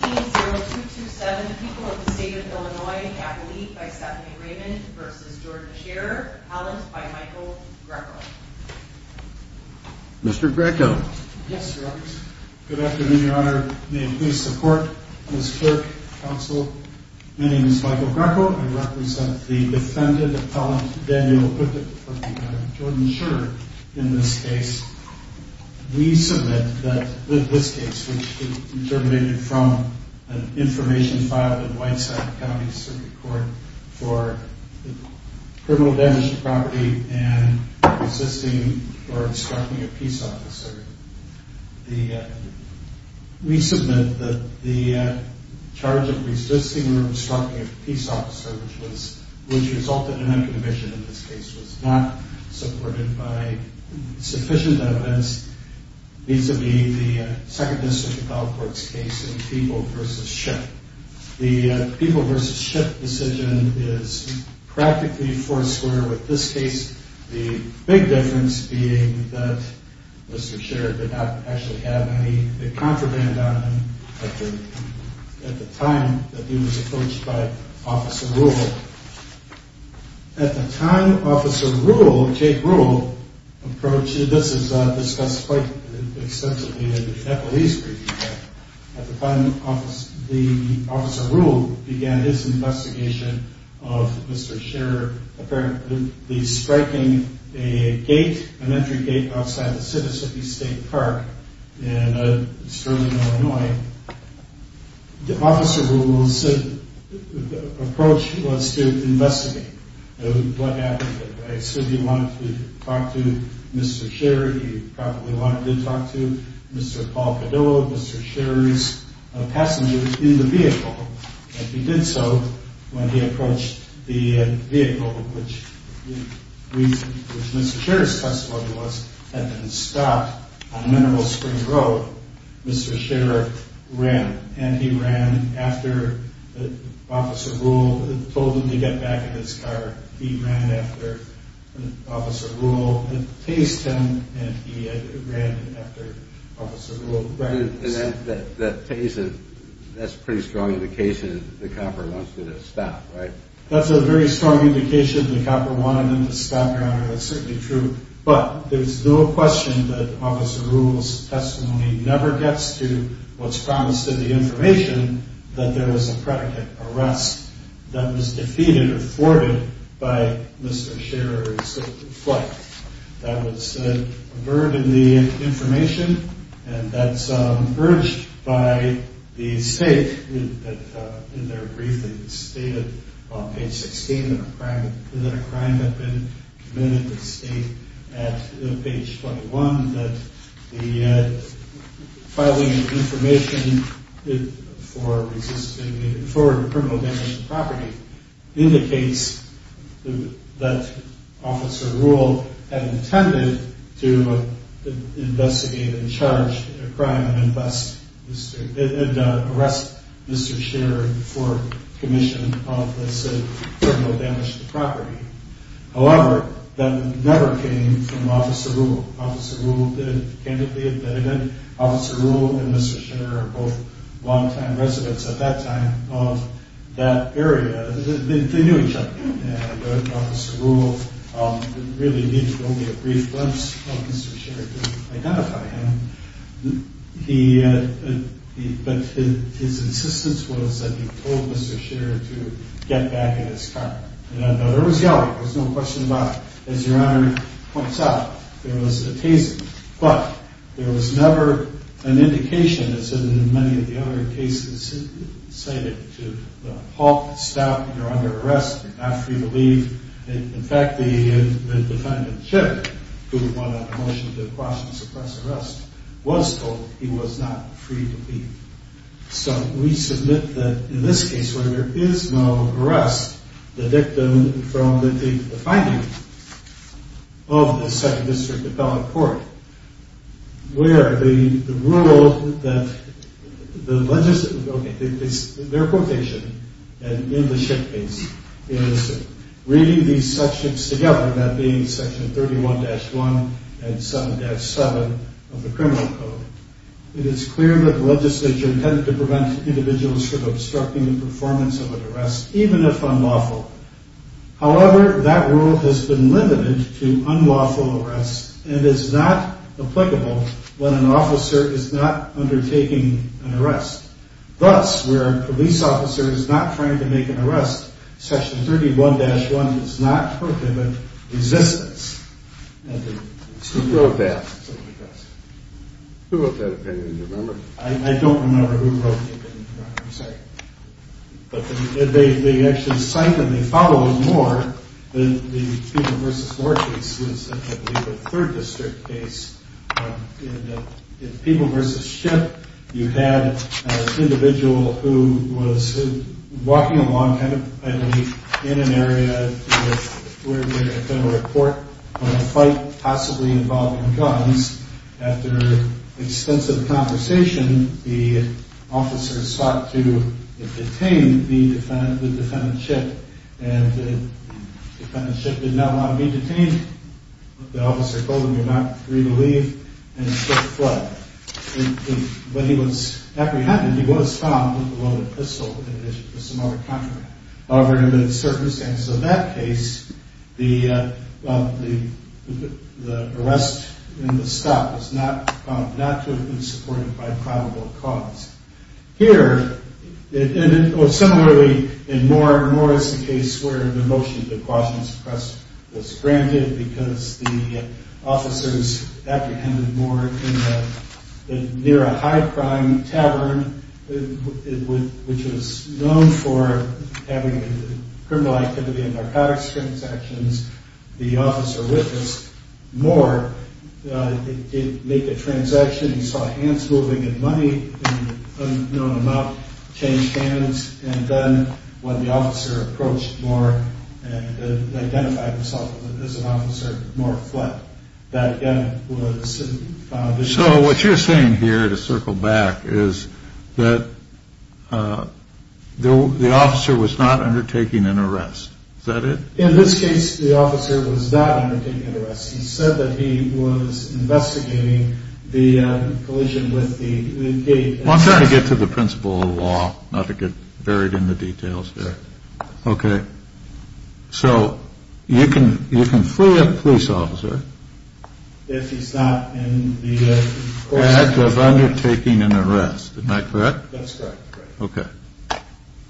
Appellant by Michael Greco Information filed in Whiteside County Circuit Court for criminal damage to property and resisting or obstructing a peace officer. We submit that the charge of resisting or obstructing a peace officer, which resulted in a conviction in this case, was not supported by sufficient evidence vis-a-vis the Second District Appellate Court's case in People v. Ship. The People v. Ship decision is practically foursquare with this case. The big difference being that Mr. Scherer did not actually have any contraband on him at the time that he was approached by Officer Rule. At the time Officer Rule, Jake Rule, approached, this is discussed quite extensively in the Appellate's brief. At the time Officer Rule began his investigation of Mr. Scherer apparently striking a gate, an entry gate outside the Mississippi State Park in Sterling, Illinois. Officer Rule's approach was to investigate what happened. I assume he wanted to talk to Mr. Scherer. He probably wanted to talk to Mr. Paul Cadillo, Mr. Scherer's passenger in the vehicle. If he did so, when he approached the vehicle, which Mr. Scherer's custody was, had been stopped on Mineral Springs Road, Mr. Scherer ran and he ran after Officer Rule and told him to get back in his car. He ran after Officer Rule and chased him and he ran after Officer Rule. That's a pretty strong indication that the copper wanted to stop, right? That's a pretty strong indication that the copper wanted to stop, right? That's certainly true. But there's no question that Officer Rule's testimony never gets to what's promised in the information that there was a predicate arrest that was defeated or thwarted by Mr. Scherer's flight. That was averted in the information and that's purged by the state in their briefing stated on page 16 that a crime had been committed at page 21 that the filing of information for criminal damage to property indicates that Officer Rule had intended to investigate and charge a crime and arrest Mr. Scherer for commission of this criminal damage to property. However, that never came from Officer Rule. Officer Rule did candidly at that event. Officer Rule and Mr. Scherer are both long-time residents at that time of that area. They knew each other and Officer Rule really needed only a brief glimpse of Mr. Scherer to identify him. But his insistence was that he told Mr. Scherer to get back in his car. Now, there was yellow. There's no question about it. As Your Honor points out, there was a taste. But there was never an indication as in many of the other cases cited to halt, stop, you're under arrest after you leave. In fact, the defendant, Scherer, who won a motion to quash and suppress arrest, was told he was not free to leave. So we submit that in this case where there is no arrest, the victim from the finding of the Second District Appellate Court where the rule that the legislative, okay, their quotation in the Scherer case is reading these sections together, that being Section 31-1 and 7-7 of the Criminal Code. It is clear that the legislature intended to prevent individuals from obstructing the performance of an arrest, even if unlawful. However, that rule has been limited to unlawful arrests and is not applicable when an officer is not undertaking an arrest. Thus, where a police officer is not trying to make an arrest, Section 31-1 does not prohibit resistance. Who wrote that? Who wrote that opinion, do you remember? I don't remember who wrote the opinion, I'm sorry. But they actually cite and they follow it more than the People v. Moore case, I believe the Third District case. In People v. Schitt, you had an individual who was walking along kind of idly in an area where there had been a report of a fight possibly involving guns. After extensive conversation, the officer sought to detain the defendant, the defendant Schitt. The defendant Schitt did not want to be detained, the officer told him you're not free to leave, and Schitt fled. But he was apprehended, he was found with a loaded pistol. However, in that circumstance, in that case, the arrest and the stop was not supported by probable cause. Here, similarly, in Moore v. Morris, the case where the motion to quash and suppress was granted because the officers apprehended Moore near a high crime tavern, which was known for having criminal activity and narcotics transactions. The officer witnessed Moore make a transaction, he saw hands moving and money in an unknown amount, changed hands, and then when the officer approached Moore and identified himself as an officer, Moore fled. So what you're saying here, to circle back, is that the officer was not undertaking an arrest, is that it? In this case, the officer was not undertaking an arrest. He said that he was investigating the collision with the gate. Well, I'm trying to get to the principle of law, not to get buried in the details here. Okay, so you can free a police officer if he's not in the course of undertaking an arrest, am I correct? That's correct. Okay,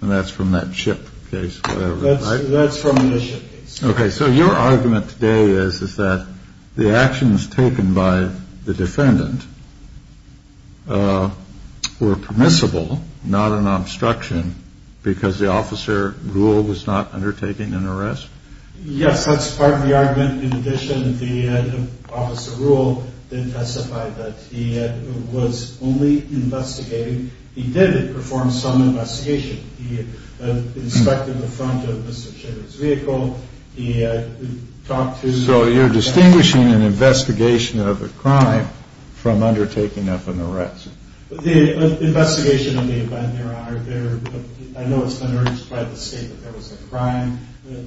and that's from that ship case, whatever, right? That's from the ship case. Okay, so your argument today is that the actions taken by the defendant were permissible, not an obstruction, because the officer, Rule, was not undertaking an arrest? Yes, that's part of the argument. In addition, the officer, Rule, did testify that he was only investigating. He did perform some investigation. He inspected the front of Mr. Schiffer's vehicle. He talked to... So you're distinguishing an investigation of a crime from undertaking an arrest. The investigation of the event, I know it's been urged by the state that there was a crime. The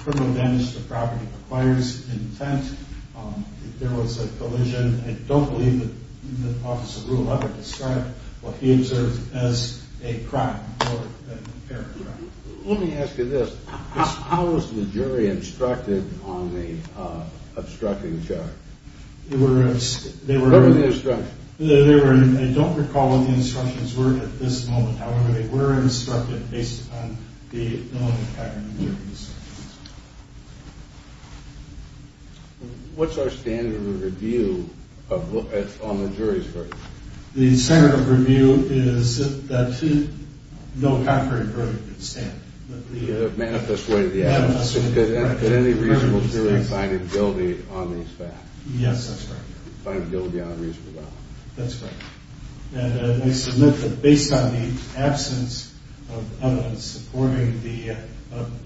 criminal damage to property requires intent. If there was a collision, I don't believe that the officer, Rule, ever described what he observed as a crime or an apparent crime. Let me ask you this. How was the jury instructed on the obstructing charge? What were the instructions? I don't recall what the instructions were at this moment. However, they were instructed based on the no-hackery verdict. What's our standard of review on the jury's verdict? The standard of review is that no-hackery verdict can stand. The manifest way of the act. That any reasonable jury find it guilty on these facts. Yes, that's correct. Find it guilty on a reasonable doubt. That's correct. And I submit that based on the absence of evidence supporting the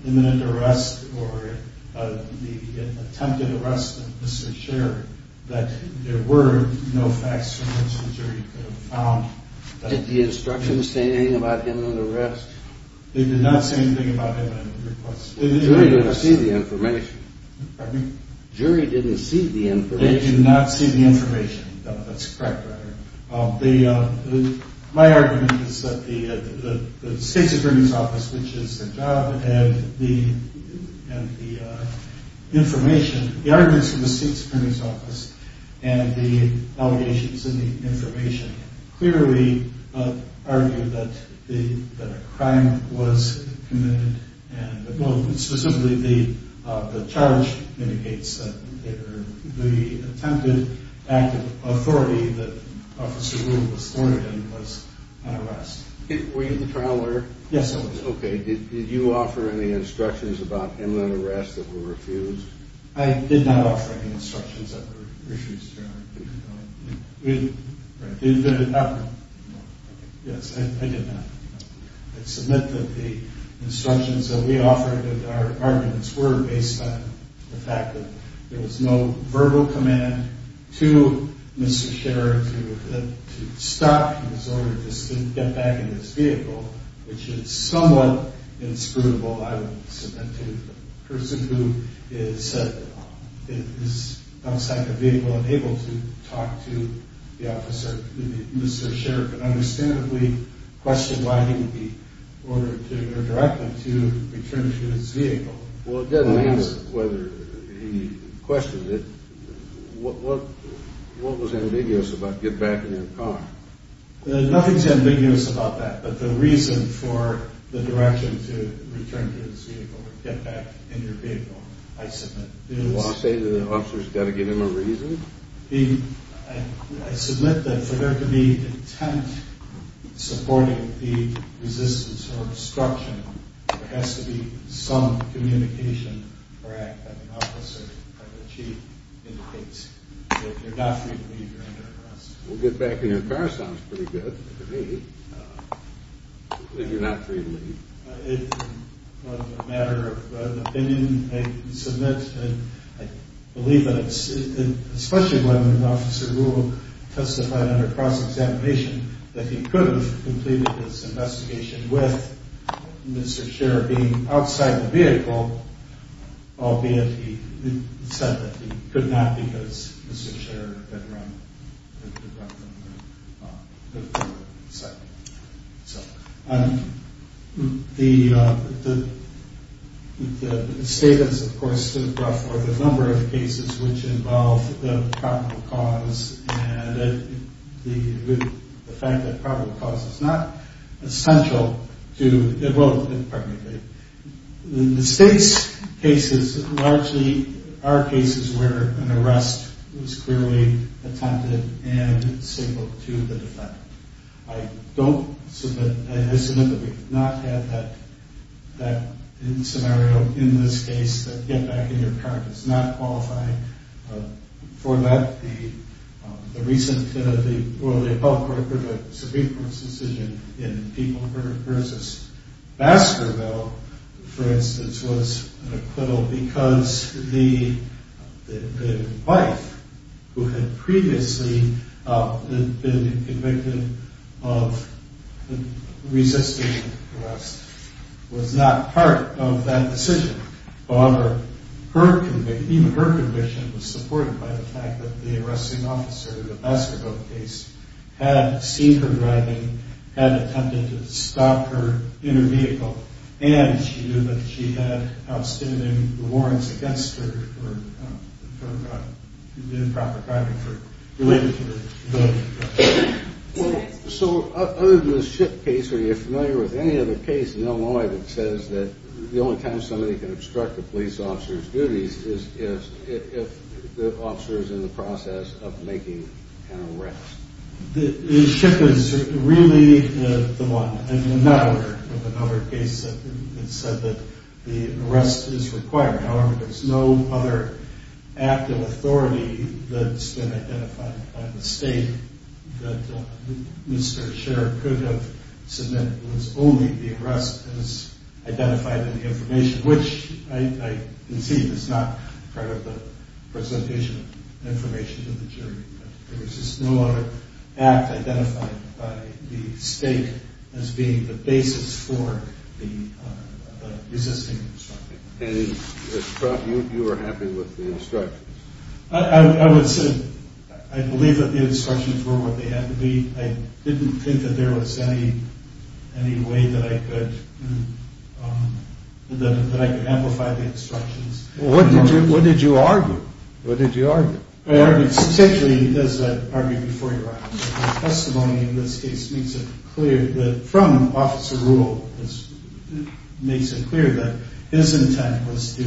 imminent arrest or the attempted arrest of Mr. Schiffer, that there were no facts from which the jury could have found... Did the instructions say anything about imminent arrest? They did not say anything about imminent arrest. The jury didn't see the information. Pardon me? The jury didn't see the information. They did not see the information. That's correct. My argument is that the state's attorney's office, which is the job and the information... The arguments from the state's attorney's office and the allegations in the information clearly argue that a crime was committed. Specifically, the charge indicates that the attempted act of authority that Officer Rule was sworn in was an arrest. Were you the trial lawyer? Yes, I was. Okay. Did you offer any instructions about imminent arrest that were refused? I did not offer any instructions that were refused, Your Honor. Right. You didn't offer them? No. Yes, I did not. I submit that the instructions that we offered and our arguments were based on the fact that there was no verbal command to Mr. Schiffer to stop his order to get back in his vehicle, which is somewhat inscrutable. I would submit to the person who is outside the vehicle and able to talk to the officer, Mr. Sheriff, and understandably question why he would be ordered or directed to return to his vehicle. Well, it doesn't matter whether he questioned it. What was ambiguous about get back in your car? Nothing's ambiguous about that, but the reason for the direction to return to his vehicle or get back in your vehicle, I submit, is... Well, I say that the officer's got to give him a reason? I submit that for there to be intent supporting the resistance or obstruction, there has to be some communication or act that an officer or the chief indicates. So if you're not free to leave, you're under arrest. Well, get back in your car sounds pretty good to me. If you're not free to leave. It was a matter of opinion, I submit, and I believe that especially when Officer Rule testified under cross-examination that he could have completed this investigation with Mr. Sheriff being outside the vehicle, albeit he said that he could not because Mr. Sheriff had run from the vehicle. The statements, of course, stood for the number of cases which involved the probable cause and the fact that probable cause is not essential to... The state's cases largely are cases where an arrest was clearly attempted and signaled to the defendant. I don't submit, I submit that we have not had that scenario in this case, that get back in your car does not qualify. For that, the recent... Well, the Supreme Court's decision in people versus Baskerville, for instance, was an acquittal because the wife who had previously been convicted of resisting arrest was not part of that decision. However, even her conviction was supported by the fact that the arresting officer in the Baskerville case had seen her driving, had attempted to stop her in her vehicle, and she knew that she had outstanding warrants against her for improper driving related to her ability to drive. So, other than the ship case, are you familiar with any other case in Illinois that says that the only time somebody can obstruct a police officer's duties is if the officer is in the process of making an arrest? The ship is really the one. In another case, it said that the arrest is required. However, there's no other act of authority that's been identified by the state that Mr. Sher could have submitted. It was only the arrest as identified in the information, which I concede is not part of the presentation of information to the jury. There's just no other act identified by the state as being the basis for the resisting instruction. And you were happy with the instructions? I believe that the instructions were what they had to be. I didn't think that there was any way that I could amplify the instructions. What did you argue? Essentially, as I argued before your honor, the testimony in this case makes it clear that from Officer Rule, it makes it clear that his intent was to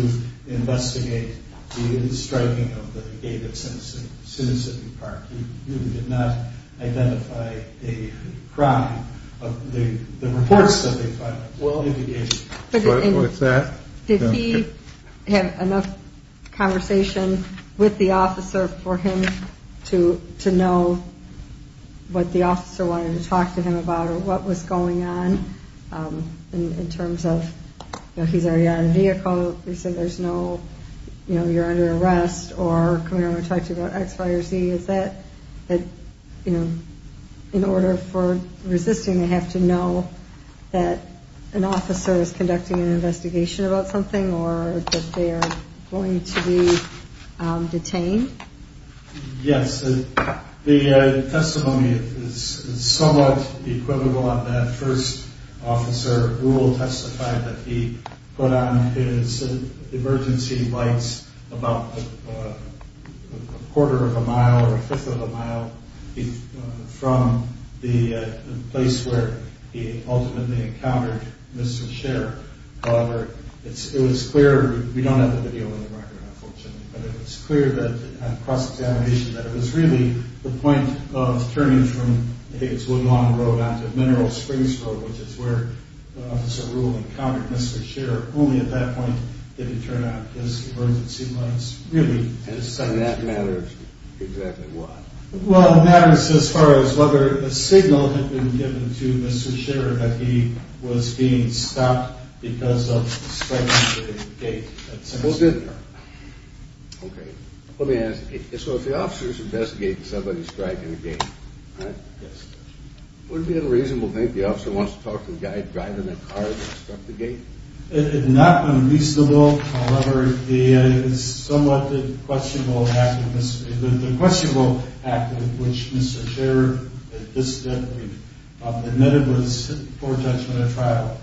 investigate the striking of the gate at Sinissippi Park. He did not identify a crime of the reports that they filed. What's that? Did he have enough conversation with the officer for him to know what the officer wanted to talk to him about or what was going on in terms of he's already on a vehicle, you're under arrest, or come here and talk to you about X, Y, or Z. Is that in order for resisting, they have to know that an officer is conducting an investigation about something or that they are going to be detained? Yes, the testimony is somewhat equivocal on that. First, Officer Rule testified that he put on his emergency lights about a quarter of a mile or a fifth of a mile from the place where he ultimately encountered Mr. Sher. However, it was clear, we don't have the video on the record unfortunately, but it was clear that it was really the point of turning from Higgs Woodlawn Road onto Mineral Springs Road, which is where Officer Rule encountered Mr. Sher. Only at that point did he turn on his emergency lights. And that matters exactly what? Well, it matters as far as whether a signal had been given to Mr. Sher that he was being stopped because of a strike at a gate. Okay, let me ask you, so if the officer is investigating somebody's strike at a gate, right? Yes. Would it be unreasonable to think the officer wants to talk to the guy driving the car that struck the gate? It would not be unreasonable. However, the somewhat questionable act in which Mr. Sher admitted was poor judgment at trial,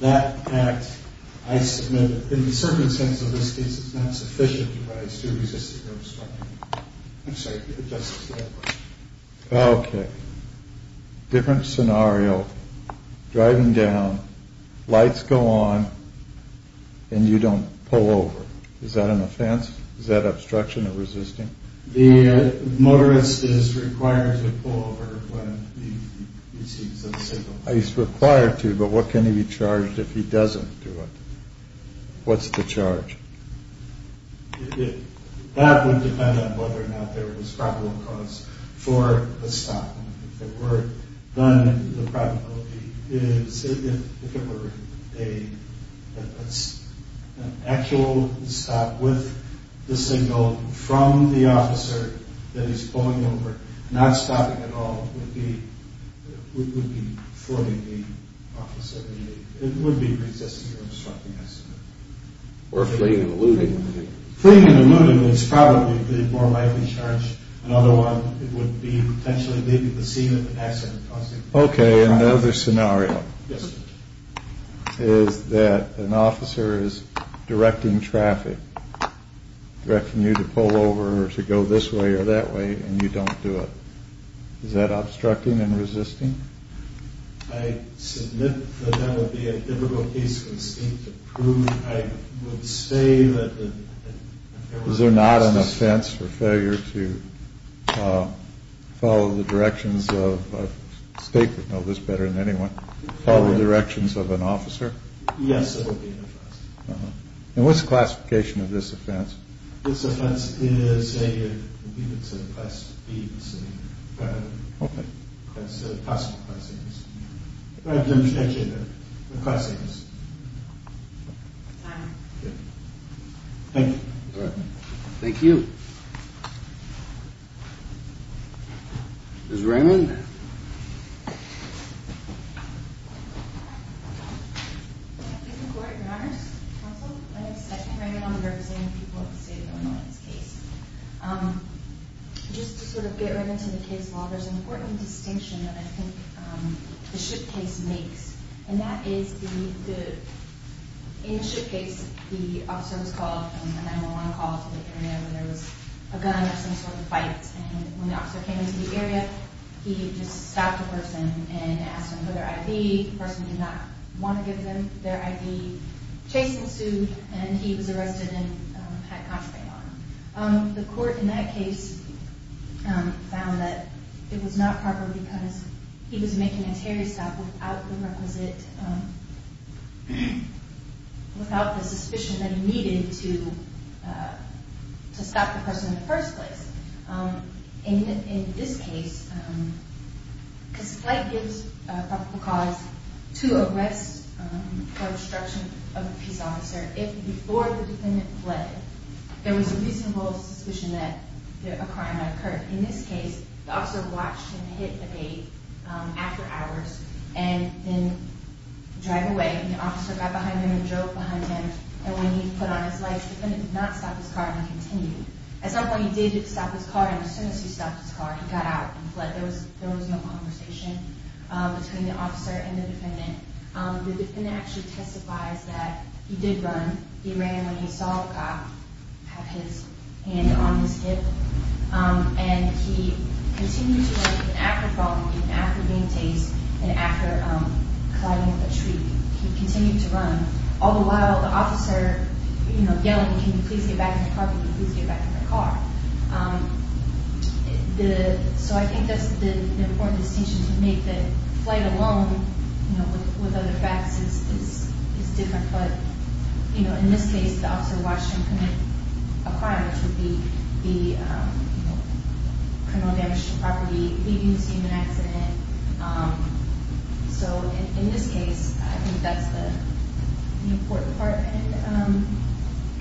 that act, I submit, in the circumstances of this case, is not sufficient to resist the term strike. I'm sorry. Justice, you had a question. Okay. Different scenario, driving down, lights go on, and you don't pull over. Is that an offense? Is that obstruction of resisting? The motorist is required to pull over when he receives a signal. He's required to, but what can he be charged if he doesn't do it? What's the charge? That would depend on whether or not there was probable cause for a stop. If there were, then the probability is, if there were an actual stop with the signal from the officer that he's pulling over, not stopping at all, it would be forming the officer. It would be resisting the term striking, I submit. Or fleeing and eluding. Fleeing and eluding is probably a more likely charge. Another one would be potentially leaving the scene of an accident. Okay. Another scenario is that an officer is directing traffic, directing you to pull over or to go this way or that way, and you don't do it. Is that obstructing and resisting? I submit that that would be a difficult case for the state to prove. I would say that... Is there not an offense for failure to follow the directions of, the state would know this better than anyone, follow the directions of an officer? Yes, there would be an offense. And what's the classification of this offense? This offense is a, you could say, class B. Okay. That's a possible class A offense. I can't make it a class A offense. Fine. Thank you. Thank you. Ms. Raymond? Ms. Raymond. Thank you, Court, Your Honors, Counsel. My name is Stephanie Raymond. I'm representing the people of the state of Illinois in this case. Just to sort of get right into the case law, there's an important distinction that I think the SHIP case makes. And that is the, in the SHIP case, the officer was called, a 911 call to the area where there was a gun or some sort of fight. And when the officer came into the area, he just stopped a person and asked them for their ID. The person did not want to give them their ID. Chase ensued, and he was arrested and had contraband on. The court in that case found that it was not proper because he was making a Terry stop without the requisite, without the suspicion that he needed to stop the person in the first place. In this case, because flight gives a probable cause to arrest for obstruction of a peace officer, if before the defendant fled, there was a reasonable suspicion that a crime had occurred. In this case, the officer watched him hit the gate after hours and then drive away. And the officer got behind him and drove behind him. And when he put on his lights, the defendant did not stop his car and continued. At some point, he did stop his car, and as soon as he stopped his car, he got out and fled. There was no conversation between the officer and the defendant. The defendant actually testifies that he did run. He ran when he saw the cop have his hand on his hip. And he continued to run even after falling, even after being chased and after colliding with a tree. He continued to run, all the while the officer yelling, can you please get back in the car, can you please get back in the car. So I think that's the important distinction to make, that flight alone, with other facts, is different. But in this case, the officer watched him commit a crime, which would be criminal damage to property, leaving the scene of an accident. So in this case, I think that's the important part. And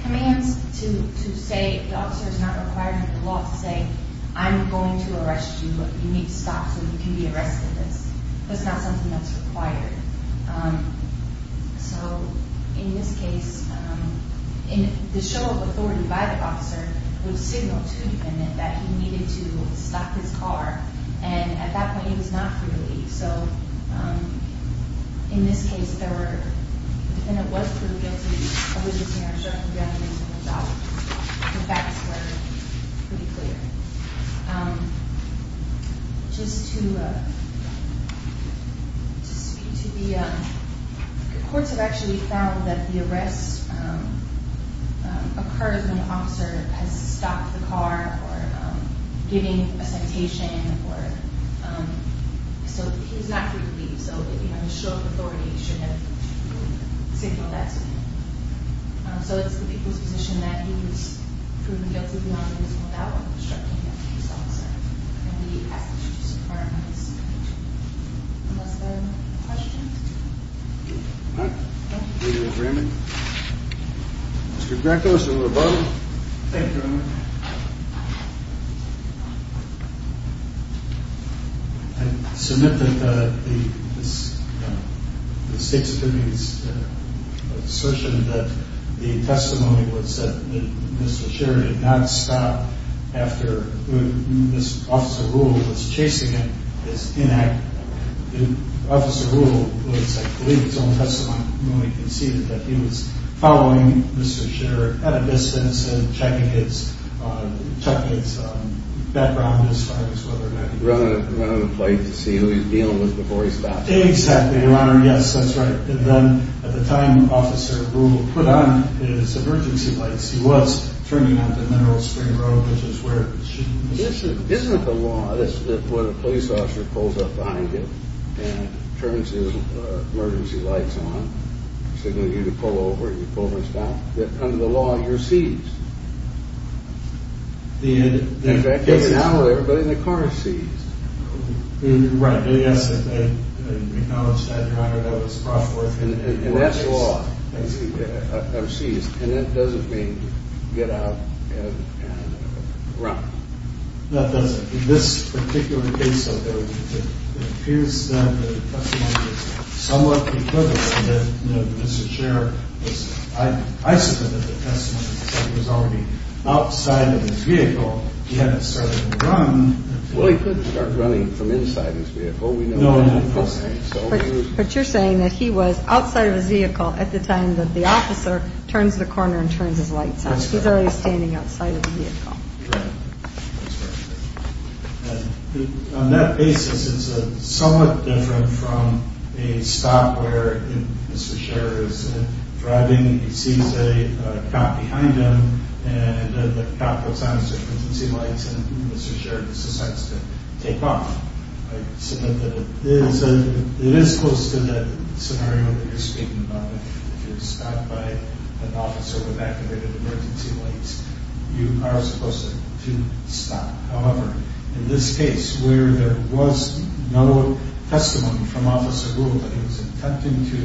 commands to say, the officer is not required under the law to say, I'm going to arrest you, but you need to stop so you can be arrested. That's not something that's required. So in this case, the show of authority by the officer would signal to the defendant that he needed to stop his car. And at that point, he was not free to leave. So in this case, the defendant was proven guilty of witnessing a show of authority. The facts were pretty clear. Just to speak to the, the courts have actually found that the arrest occurs when the officer has stopped the car or given a sentation. So he was not free to leave, so the show of authority should have signaled that to him. So it's the defendant's position that he was proven guilty beyond his own doubt of obstructing the case officer. And we ask that you support his conviction. Unless there are no more questions. All right. Thank you. Mr. Greco, Mr. Lobardo. Thank you very much. I submit that the state's assertion that the testimony was that Mr. Scherer did not stop after Officer Rule was chasing him is inaccurate. Officer Rule was, I believe, in his own testimony when he conceded that he was following Mr. Scherer at a distance and checking his background as far as whether or not he was following him. Running a plate to see who he was dealing with before he stopped. Exactly, Your Honor. Yes, that's right. And then at the time Officer Rule put on his emergency lights, he was turning onto Mineral Spring Road, which is where she was. This isn't the law. This is when a police officer pulls up behind you and turns his emergency lights on, signaling you to pull over. You pull over and stop. Under the law, you're seized. In fact, now everybody in the car is seized. Right. Yes. We acknowledge that, Your Honor. That was brought forth. And that's law. I'm seized. And that doesn't mean get out and run. No, it doesn't. In this particular case, it appears that the testimony was somewhat equivocal, that Mr. Scherer was isolated. The testimony said he was already outside of his vehicle. He hadn't started to run. Well, he could have started running from inside his vehicle. We know that. But you're saying that he was outside of his vehicle at the time that the officer turns the corner and turns his lights on. He's already standing outside of the vehicle. Right. On that basis, it's somewhat different from a stop where Mr. Scherer is driving, he sees a cop behind him, and the cop puts on his emergency lights, and Mr. Scherer decides to take off. It is close to the scenario that you're speaking about. If you're stopped by an officer with activated emergency lights, you are supposed to stop. However, in this case, where there was no testimony from Officer Gould that he was attempting to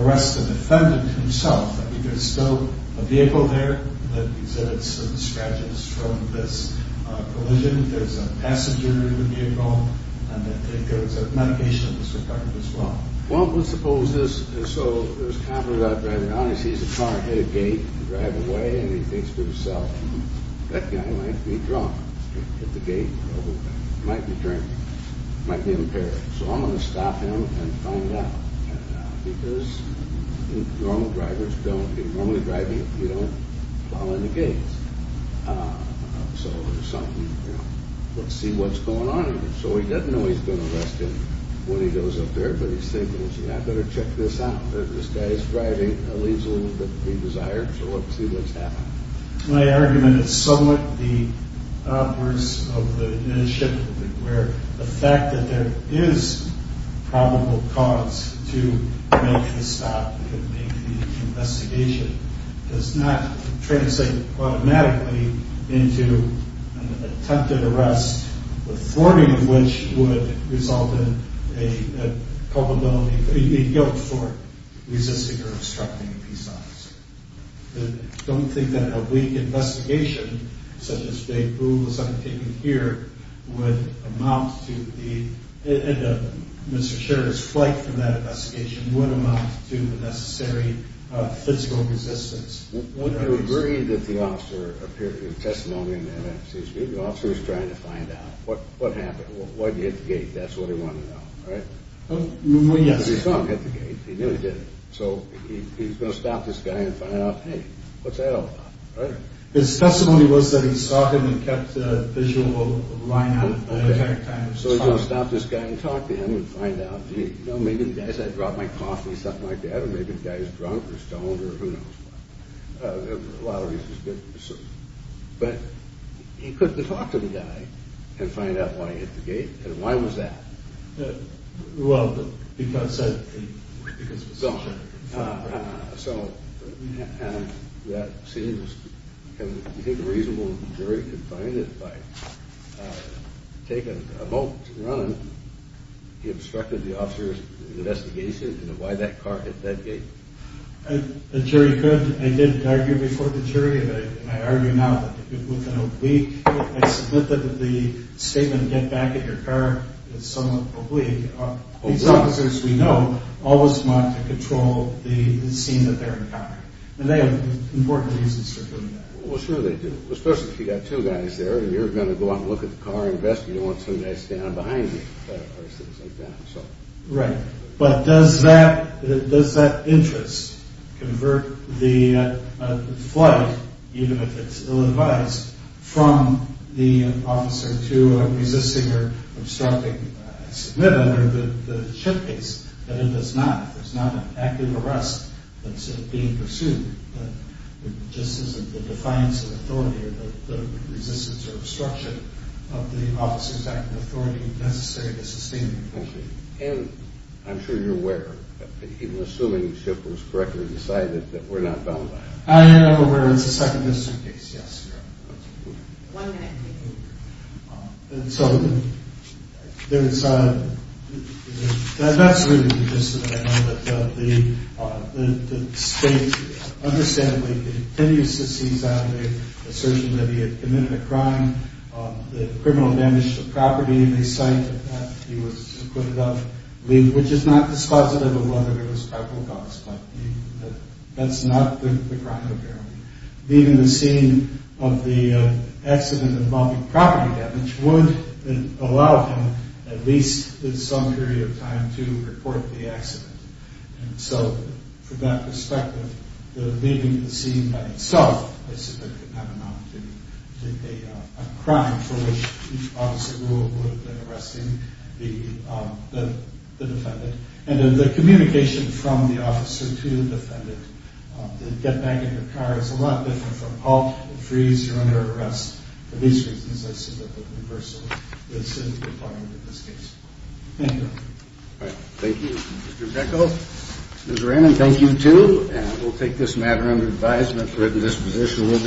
arrest the defendant himself, I mean, there's still a vehicle there that exhibits some scratches from this collision. There's a passenger in the vehicle, and I think there was a medication that was recovered as well. Well, let's suppose this. So there's a cop driving around, he sees a car hit a gate and drive away, and he thinks to himself, that guy might be drunk, hit the gate, might be drunk, might be impaired. So I'm going to stop him and find out. Because normal drivers don't, normally driving, you don't plow in the gates. So there's something, you know, let's see what's going on here. So he doesn't know he's been arrested when he goes up there, but he's thinking, I better check this out. This guy's driving, leaves a little bit of a desire, so let's see what's happening. My argument is somewhat the words of the ship where the fact that there is probable cause to make the stop could make the investigation, does not translate automatically into an attempted arrest, the thwarting of which would result in a guilt for resisting or obstructing a peace officer. Don't think that a weak investigation, such as Daegu was undertaken here, would amount to the necessary physical resistance. Would you agree that the officer appeared in the testimony, the officer was trying to find out, what happened, why did he hit the gate, that's what he wanted to know, right? Well, yes. He saw him hit the gate, he knew he did it, so he's going to stop this guy and find out, hey, what's that all about, right? His testimony was that he saw him and kept a visual line out of it. So he's going to stop this guy and talk to him and find out, gee, maybe the guy said I dropped my coffee or something like that, or maybe the guy's drunk or stoned or who knows what. A lot of reasons, but he couldn't have talked to the guy and find out why he hit the gate, and why was that? Well, because... So, that seems, do you think a reasonable jury could find it by taking a moment to run and he obstructed the officer's investigation into why that car hit that gate? A jury could. I did argue before the jury, and I argue now that within a week, I submit that the statement, get back in your car, is somewhat oblique. These officers, we know, always want to control the scene that they're encountering, and they have important reasons for doing that. Well, sure they do, especially if you've got two guys there and you're going to go out and look at the car and investigate and you don't want somebody standing behind you or things like that. Right, but does that interest convert the flight, even if it's ill-advised, from the officer to a resisting or obstructing? I submit under the SHIP case that it does not. There's not an active arrest that's being pursued. It just isn't the defiance of authority or the resistance or obstruction of the officer's active authority necessary to sustain the pursuit. And I'm sure you're aware, even assuming SHIP was correctly decided, that we're not bound by it. I am aware. It's a second district case. Yes, ma'am. One minute, please. And so, that's really the incident. I know that the state, understandably, continues to seize on the assertion that he had committed a crime, the criminal damage to property in the site that he was acquitted of, which is not dispositive of whether there was leaving the scene of the accident involving property damage would allow him, at least in some period of time, to report the accident. And so, from that perspective, leaving the scene by itself, I submit, would not amount to a crime for which each officer would have been arresting the defendant. And the communication from the officer to the defendant, the get-back-in-the-car, is a lot different from halt, freeze, you're under arrest. For these reasons, I submit that the reversal is in the department in this case. Thank you. All right. Thank you, Mr. Jekyll. Ms. Raymond, thank you, too. And we'll take this matter under advisement. We're at a disposition.